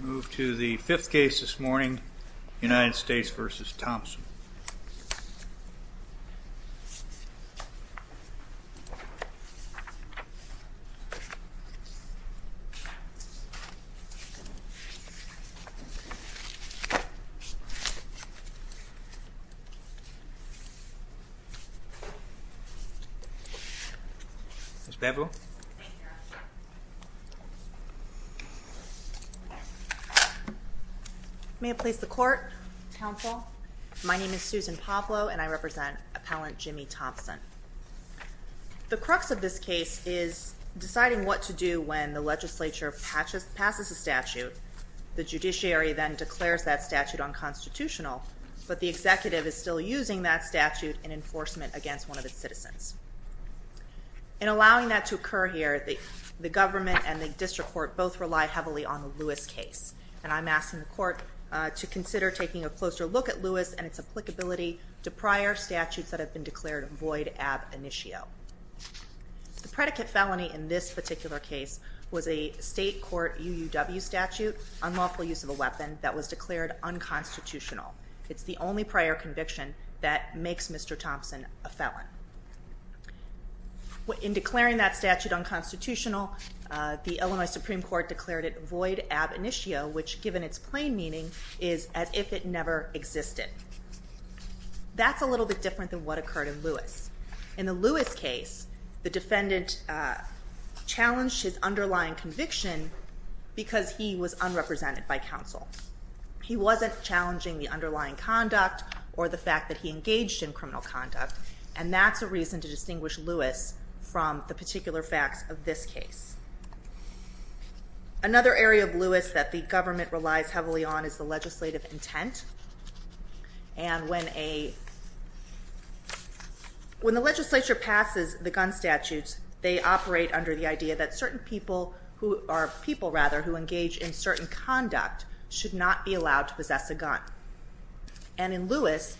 Move to the fifth case this morning, United States v. Thompson. Please be seated. Ms.Sbergu May I please the court and the council. My name is Susan Pablo and I represent Appellant Jimmy Thompson. The crux of this case is deciding what to do when the legislature passes a statute, the judiciary then declares that statute unconstitutional, but the executive is still using that statute in enforcement against one of its citizens. In allowing that to occur here, the government and the district court both rely heavily on the Lewis case, and I'm asking the court to consider taking a closer look at Lewis and its applicability to prior statutes that have been declared void ab initio. The predicate felony in this particular case was a state court UUW statute, unlawful use of a weapon, that was declared unconstitutional. It's the only prior conviction that makes Mr. Thompson a felon. In declaring that statute unconstitutional, the Illinois Supreme Court declared it void ab initio, which, given its plain meaning, is as if it never existed. That's a little bit different than what occurred in Lewis. In the Lewis case, the defendant challenged his underlying conviction because he was unrepresented by counsel. He wasn't challenging the underlying conduct or the fact that he engaged in criminal conduct, and that's a reason to distinguish Lewis from the particular facts of this case. Another area of Lewis that the government relies heavily on is the legislative intent, and when the legislature passes the gun statutes, they operate under the idea that certain people who are people, rather, who engage in certain conduct should not be allowed to possess a gun. And in Lewis,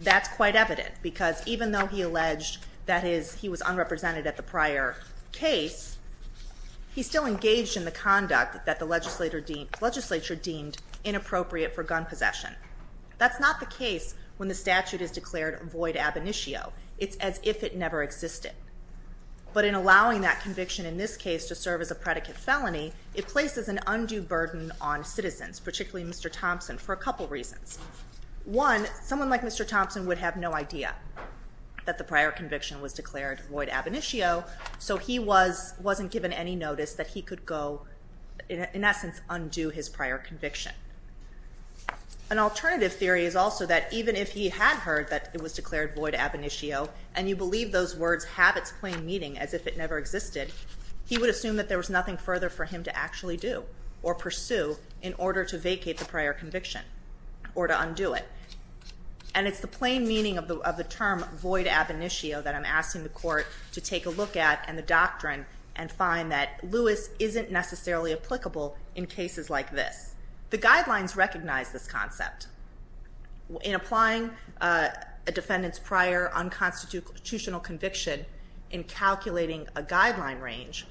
that's quite evident because even though he alleged that he was unrepresented at the prior case, he still engaged in the conduct that the legislature deemed inappropriate for gun possession. That's not the case when the statute is declared void ab initio. It's as if it never existed. But in allowing that conviction in this case to serve as a predicate felony, it places an undue burden on citizens, particularly Mr. Thompson, for a couple reasons. One, someone like Mr. Thompson would have no idea that the prior conviction was declared void ab initio, so he wasn't given any notice that he could go, in essence, undo his prior conviction. An alternative theory is also that even if he had heard that it was declared void ab initio and you believe those words have its plain meaning as if it never existed, he would assume that there was nothing further for him to actually do or pursue in order to vacate the prior conviction or to undo it. And it's the plain meaning of the term void ab initio that I'm asking the court to take a look at and the doctrine and find that Lewis isn't necessarily applicable in cases like this. The guidelines recognize this concept. In applying a defendant's prior unconstitutional conviction in calculating a guideline range,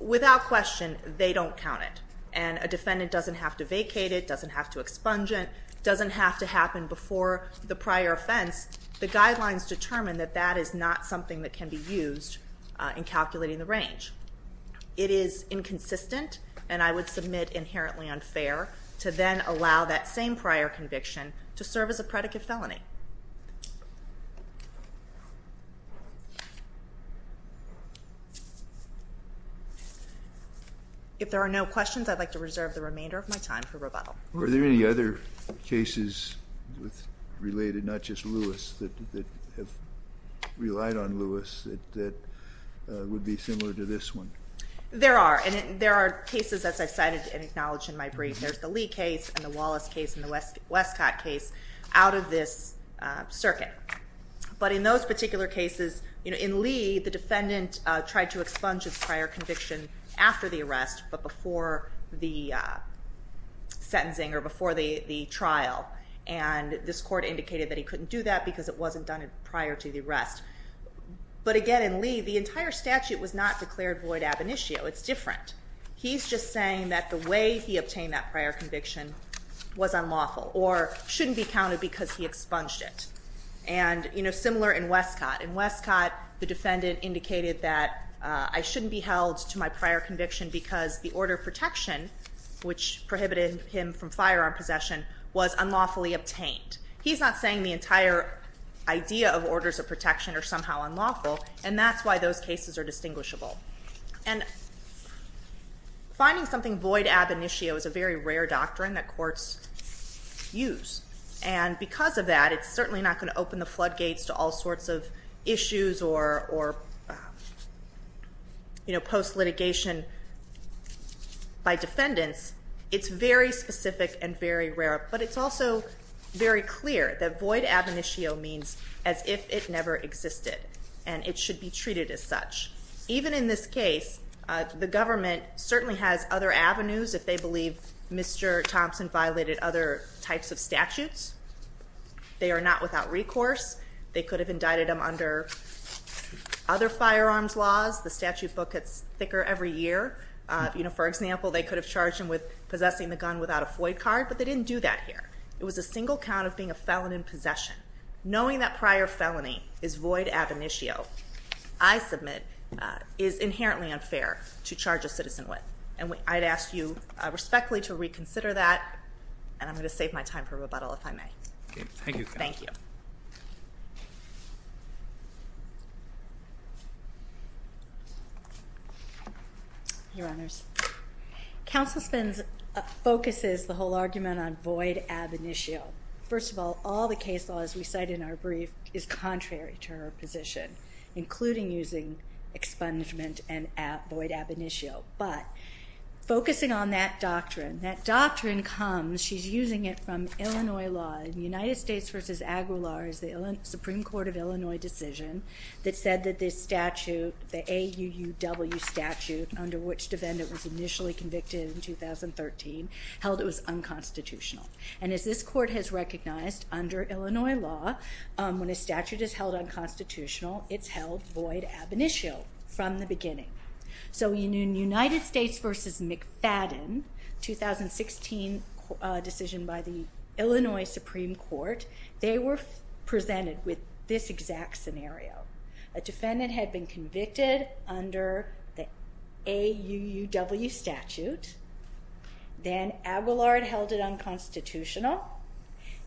without question they don't count it, and a defendant doesn't have to vacate it, doesn't have to expunge it, doesn't have to happen before the prior offense. The guidelines determine that that is not something that can be used in calculating the range. It is inconsistent, and I would submit inherently unfair, to then allow that same prior conviction to serve as a predicate felony. If there are no questions, I'd like to reserve the remainder of my time for rebuttal. Are there any other cases related, not just Lewis, that have relied on Lewis that would be similar to this one? There are, and there are cases, as I cited and acknowledged in my brief. There's the Lee case and the Wallace case and the Westcott case out of this circuit. But in those particular cases, in Lee, the defendant tried to expunge his prior conviction after the arrest, but before the sentencing or before the trial. And this court indicated that he couldn't do that because it wasn't done prior to the arrest. But again, in Lee, the entire statute was not declared void ab initio. It's different. He's just saying that the way he obtained that prior conviction was unlawful or shouldn't be counted because he expunged it. And, you know, similar in Westcott. In Westcott, the defendant indicated that I shouldn't be held to my prior conviction because the order of protection, which prohibited him from firearm possession, was unlawfully obtained. He's not saying the entire idea of orders of protection are somehow unlawful, and that's why those cases are distinguishable. And finding something void ab initio is a very rare doctrine that courts use. And because of that, it's certainly not going to open the floodgates to all sorts of issues or, you know, post-litigation by defendants. It's very specific and very rare. But it's also very clear that void ab initio means as if it never existed and it should be treated as such. Even in this case, the government certainly has other avenues if they believe Mr. Thompson violated other types of statutes. They are not without recourse. They could have indicted him under other firearms laws. The statute book gets thicker every year. You know, for example, they could have charged him with possessing the gun without a Floyd card, but they didn't do that here. It was a single count of being a felon in possession. Knowing that prior felony is void ab initio, I submit, is inherently unfair to charge a citizen with. And I'd ask you respectfully to reconsider that, and I'm going to save my time for rebuttal if I may. Okay. Thank you. Thank you. Your Honors. Counsel Spence focuses the whole argument on void ab initio. First of all, all the case laws we cite in our brief is contrary to her position, including using expungement and void ab initio. But focusing on that doctrine, that doctrine comes, she's using it from Illinois law. In United States v. Aguilar's Supreme Court of Illinois decision that said that this statute, the AUUW statute, under which defendant was initially convicted in 2013, held it was unconstitutional. And as this court has recognized under Illinois law, when a statute is held unconstitutional, it's held void ab initio from the beginning. So in United States v. McFadden, 2016 decision by the Illinois Supreme Court, they were presented with this exact scenario. A defendant had been convicted under the AUUW statute. Then Aguilar held it unconstitutional.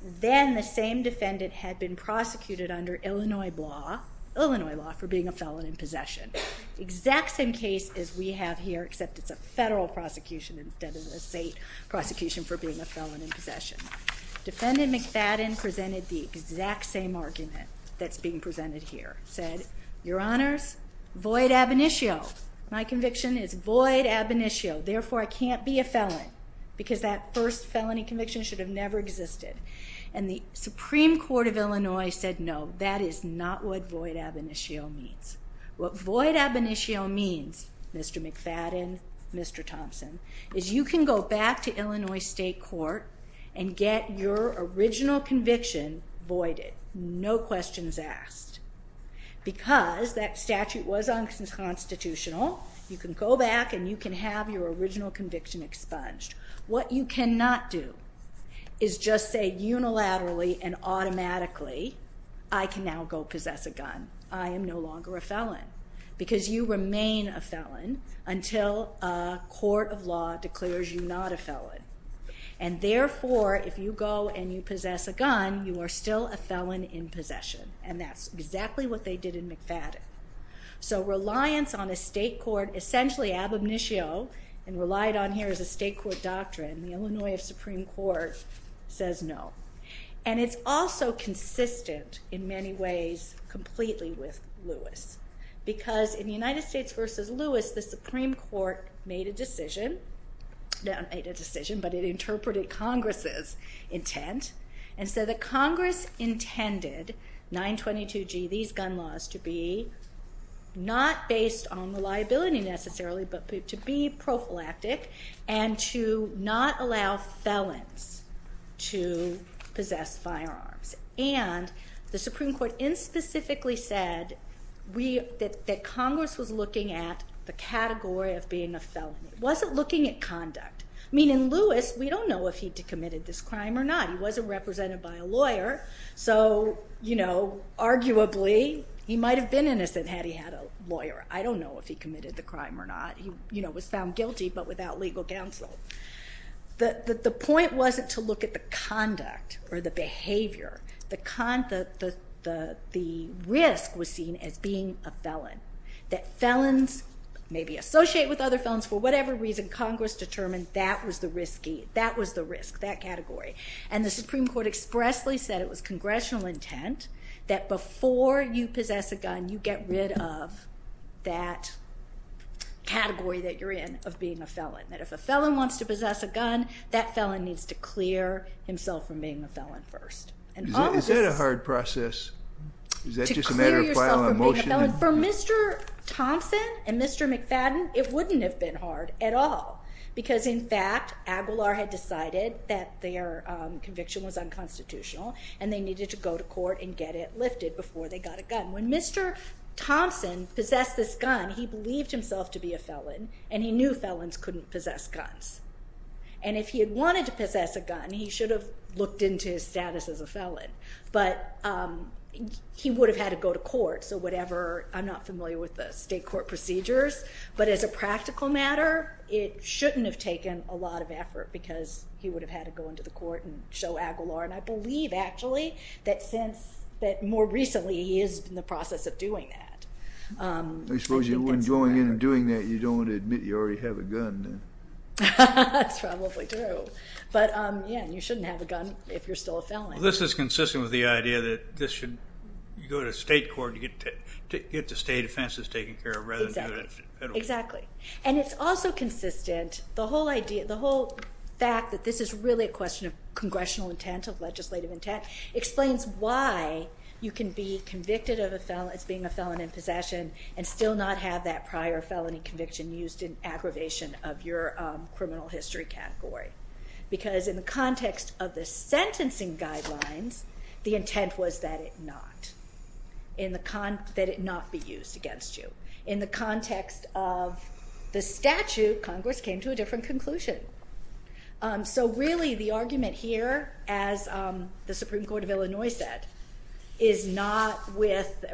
Then the same defendant had been prosecuted under Illinois law for being a felon in possession. Exact same case as we have here, except it's a federal prosecution instead of a state prosecution for being a felon in possession. Defendant McFadden presented the exact same argument that's being presented here. Said, Your Honors, void ab initio. My conviction is void ab initio. Therefore, I can't be a felon. Because that first felony conviction should have never existed. And the Supreme Court of Illinois said no, that is not what void ab initio means. What void ab initio means, Mr. McFadden, Mr. Thompson, is you can go back to Illinois State Court and get your original conviction voided. No questions asked. Because that statute was unconstitutional, you can go back and you can have your original conviction expunged. What you cannot do is just say unilaterally and automatically, I can now go possess a gun. I am no longer a felon. Because you remain a felon until a court of law declares you not a felon. And therefore, if you go and you possess a gun, you are still a felon in possession. And that's exactly what they did in McFadden. So reliance on a state court, essentially ab initio, and relied on here as a state court doctrine, the Illinois Supreme Court says no. And it's also consistent in many ways completely with Lewis. Because in the United States versus Lewis, the Supreme Court made a decision. Not made a decision, but it interpreted Congress's intent. And so the Congress intended 922G, these gun laws, to be not based on the liability necessarily, but to be prophylactic and to not allow felons to possess firearms. And the Supreme Court inspecifically said that Congress was looking at the category of being a felony. It wasn't looking at conduct. I mean, in Lewis, we don't know if he committed this crime or not. He wasn't represented by a lawyer. So, you know, arguably, he might have been innocent had he had a lawyer. I don't know if he committed the crime or not. He, you know, was found guilty but without legal counsel. The point wasn't to look at the conduct or the behavior. The risk was seen as being a felon. That felons, maybe associated with other felons for whatever reason, Congress determined that was the risk, that category. And the Supreme Court expressly said it was congressional intent that before you possess a gun, you get rid of that category that you're in of being a felon. That if a felon wants to possess a gun, that felon needs to clear himself from being a felon first. Is that a hard process? To clear yourself from being a felon? For Mr. Thompson and Mr. McFadden, it wouldn't have been hard at all because, in fact, Aguilar had decided that their conviction was unconstitutional and they needed to go to court and get it lifted before they got a gun. When Mr. Thompson possessed this gun, he believed himself to be a felon and he knew felons couldn't possess guns. If he had wanted to possess a gun, he should have looked into his status as a felon, but he would have had to go to court. I'm not familiar with the state court procedures, but as a practical matter, it shouldn't have taken a lot of effort because he would have had to go into the court and show Aguilar, and I believe actually that more recently he is in the process of doing that. I suppose when you're going in and doing that, you don't want to admit you already have a gun. That's probably true. But, yeah, you shouldn't have a gun if you're still a felon. This is consistent with the idea that this should go to state court to get the state offenses taken care of rather than the federal court. Exactly. And it's also consistent, the whole fact that this is really a question of congressional intent, of legislative intent, explains why you can be convicted of being a felon in possession and still not have that prior felony conviction used in aggravation of your criminal history category. Because in the context of the sentencing guidelines, the intent was that it not be used against you. In the context of the statute, Congress came to a different conclusion. So, really, the argument here, as the Supreme Court of Illinois said, is not with,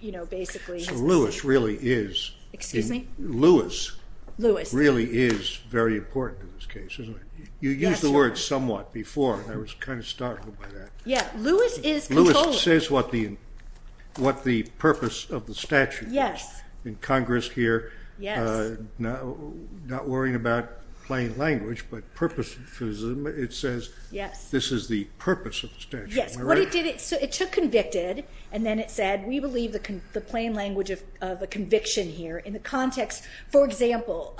you know, basically. So Lewis really is. Excuse me? Lewis really is very important in this case, isn't he? You used the word somewhat before, and I was kind of startled by that. Yeah, Lewis is controlling. Lewis says what the purpose of the statute is. Yes. In Congress here, not worrying about plain language, but purpose, it says this is the purpose of the statute. Yes. It took convicted, and then it said, we believe the plain language of a conviction here in the context. For example,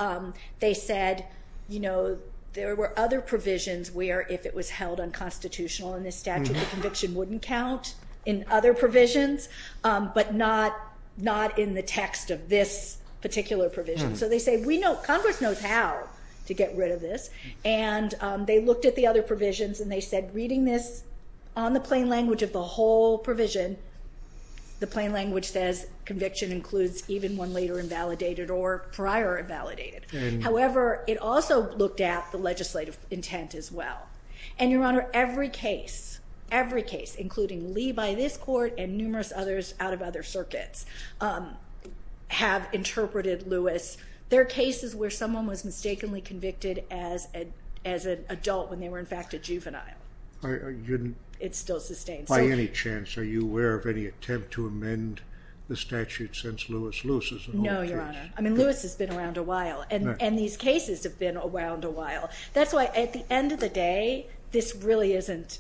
they said, you know, there were other provisions where if it was held unconstitutional in this statute, the conviction wouldn't count in other provisions, but not in the text of this particular provision. So they say, we know, Congress knows how to get rid of this. And they looked at the other provisions, and they said, reading this on the plain language of the whole provision, the plain language says conviction includes even one later invalidated or prior invalidated. However, it also looked at the legislative intent as well. And, Your Honor, every case, every case, including Lee by this court and numerous others out of other circuits, have interpreted Lewis. There are cases where someone was mistakenly convicted as an adult when they were, in fact, a juvenile. It's still sustained. By any chance, are you aware of any attempt to amend the statute since Lewis loses an old case? No, Your Honor. I mean, Lewis has been around a while. And these cases have been around a while. That's why, at the end of the day, this really isn't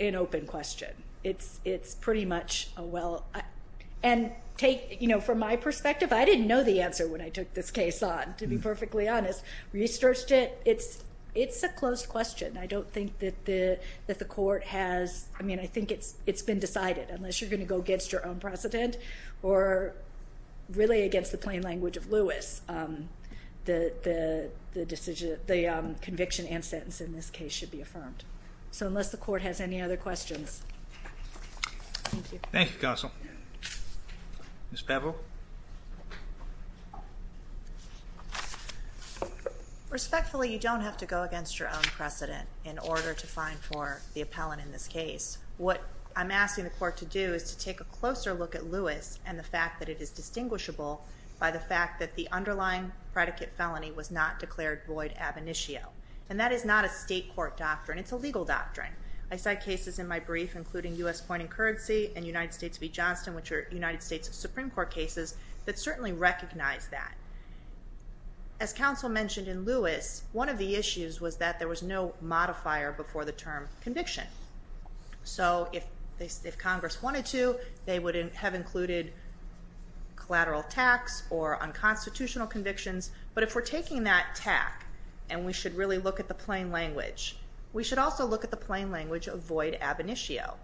an open question. It's pretty much a well – and take, you know, from my perspective, I didn't know the answer when I took this case on, to be perfectly honest. We searched it. It's a closed question. I don't think that the court has – I mean, I think it's been decided, unless you're going to go against your own precedent or really against the plain language of Lewis. The conviction and sentence in this case should be affirmed. So unless the court has any other questions. Thank you. Thank you, Counsel. Ms. Beville. Respectfully, you don't have to go against your own precedent in order to find for the appellant in this case. What I'm asking the court to do is to take a closer look at Lewis and the fact that it is distinguishable by the fact that the underlying predicate felony was not declared void ab initio. And that is not a state court doctrine. It's a legal doctrine. I cite cases in my brief, including U.S. Pointing Currency and United States v. Johnston, which are United States Supreme Court cases, that certainly recognize that. As Counsel mentioned in Lewis, one of the issues was that there was no modifier before the term conviction. So if Congress wanted to, they would have included collateral tax or unconstitutional convictions. But if we're taking that tack, and we should really look at the plain language, we should also look at the plain language of void ab initio.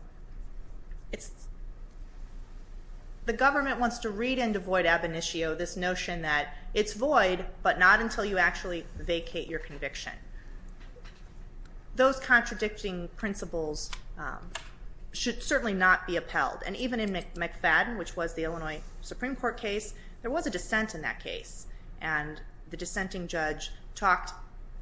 The government wants to read into void ab initio this notion that it's void, but not until you actually vacate your conviction. Those contradicting principles should certainly not be upheld. And even in McFadden, which was the Illinois Supreme Court case, there was a dissent in that case. And the dissenting judge talked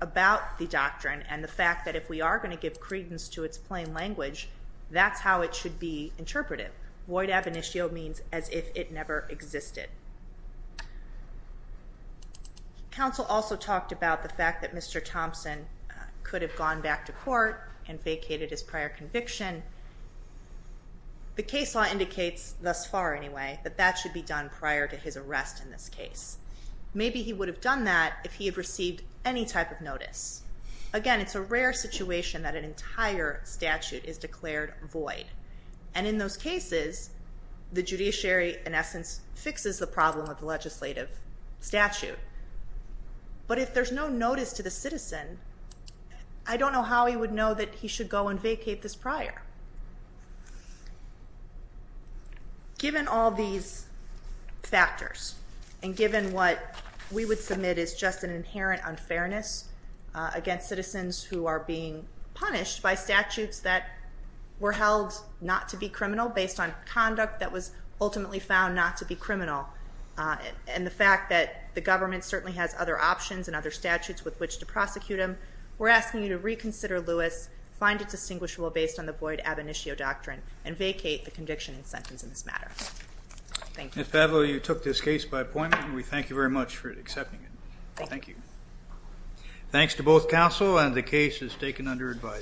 about the doctrine and the fact that if we are going to give credence to its plain language, that's how it should be interpreted. Void ab initio means as if it never existed. Counsel also talked about the fact that Mr. Thompson could have gone back to court and vacated his prior conviction. The case law indicates, thus far anyway, that that should be done prior to his arrest in this case. Maybe he would have done that if he had received any type of notice. Again, it's a rare situation that an entire statute is declared void. And in those cases, the judiciary, in essence, fixes the problem of the legislative statute. But if there's no notice to the citizen, I don't know how he would know that he should go and vacate this prior. Given all these factors, and given what we would submit is just an inherent unfairness against citizens who are being punished by statutes that were held not to be criminal based on conduct that was ultimately found not to be criminal, and the fact that the government certainly has other options and other statutes with which to prosecute them, we're asking you to reconsider Lewis, find it distinguishable based on the void ab initio doctrine, and vacate the conviction and sentence in this matter. Thank you. Ms. Pavley, you took this case by appointment, and we thank you very much for accepting it. Thank you. Thanks to both counsel, and the case is taken under advice.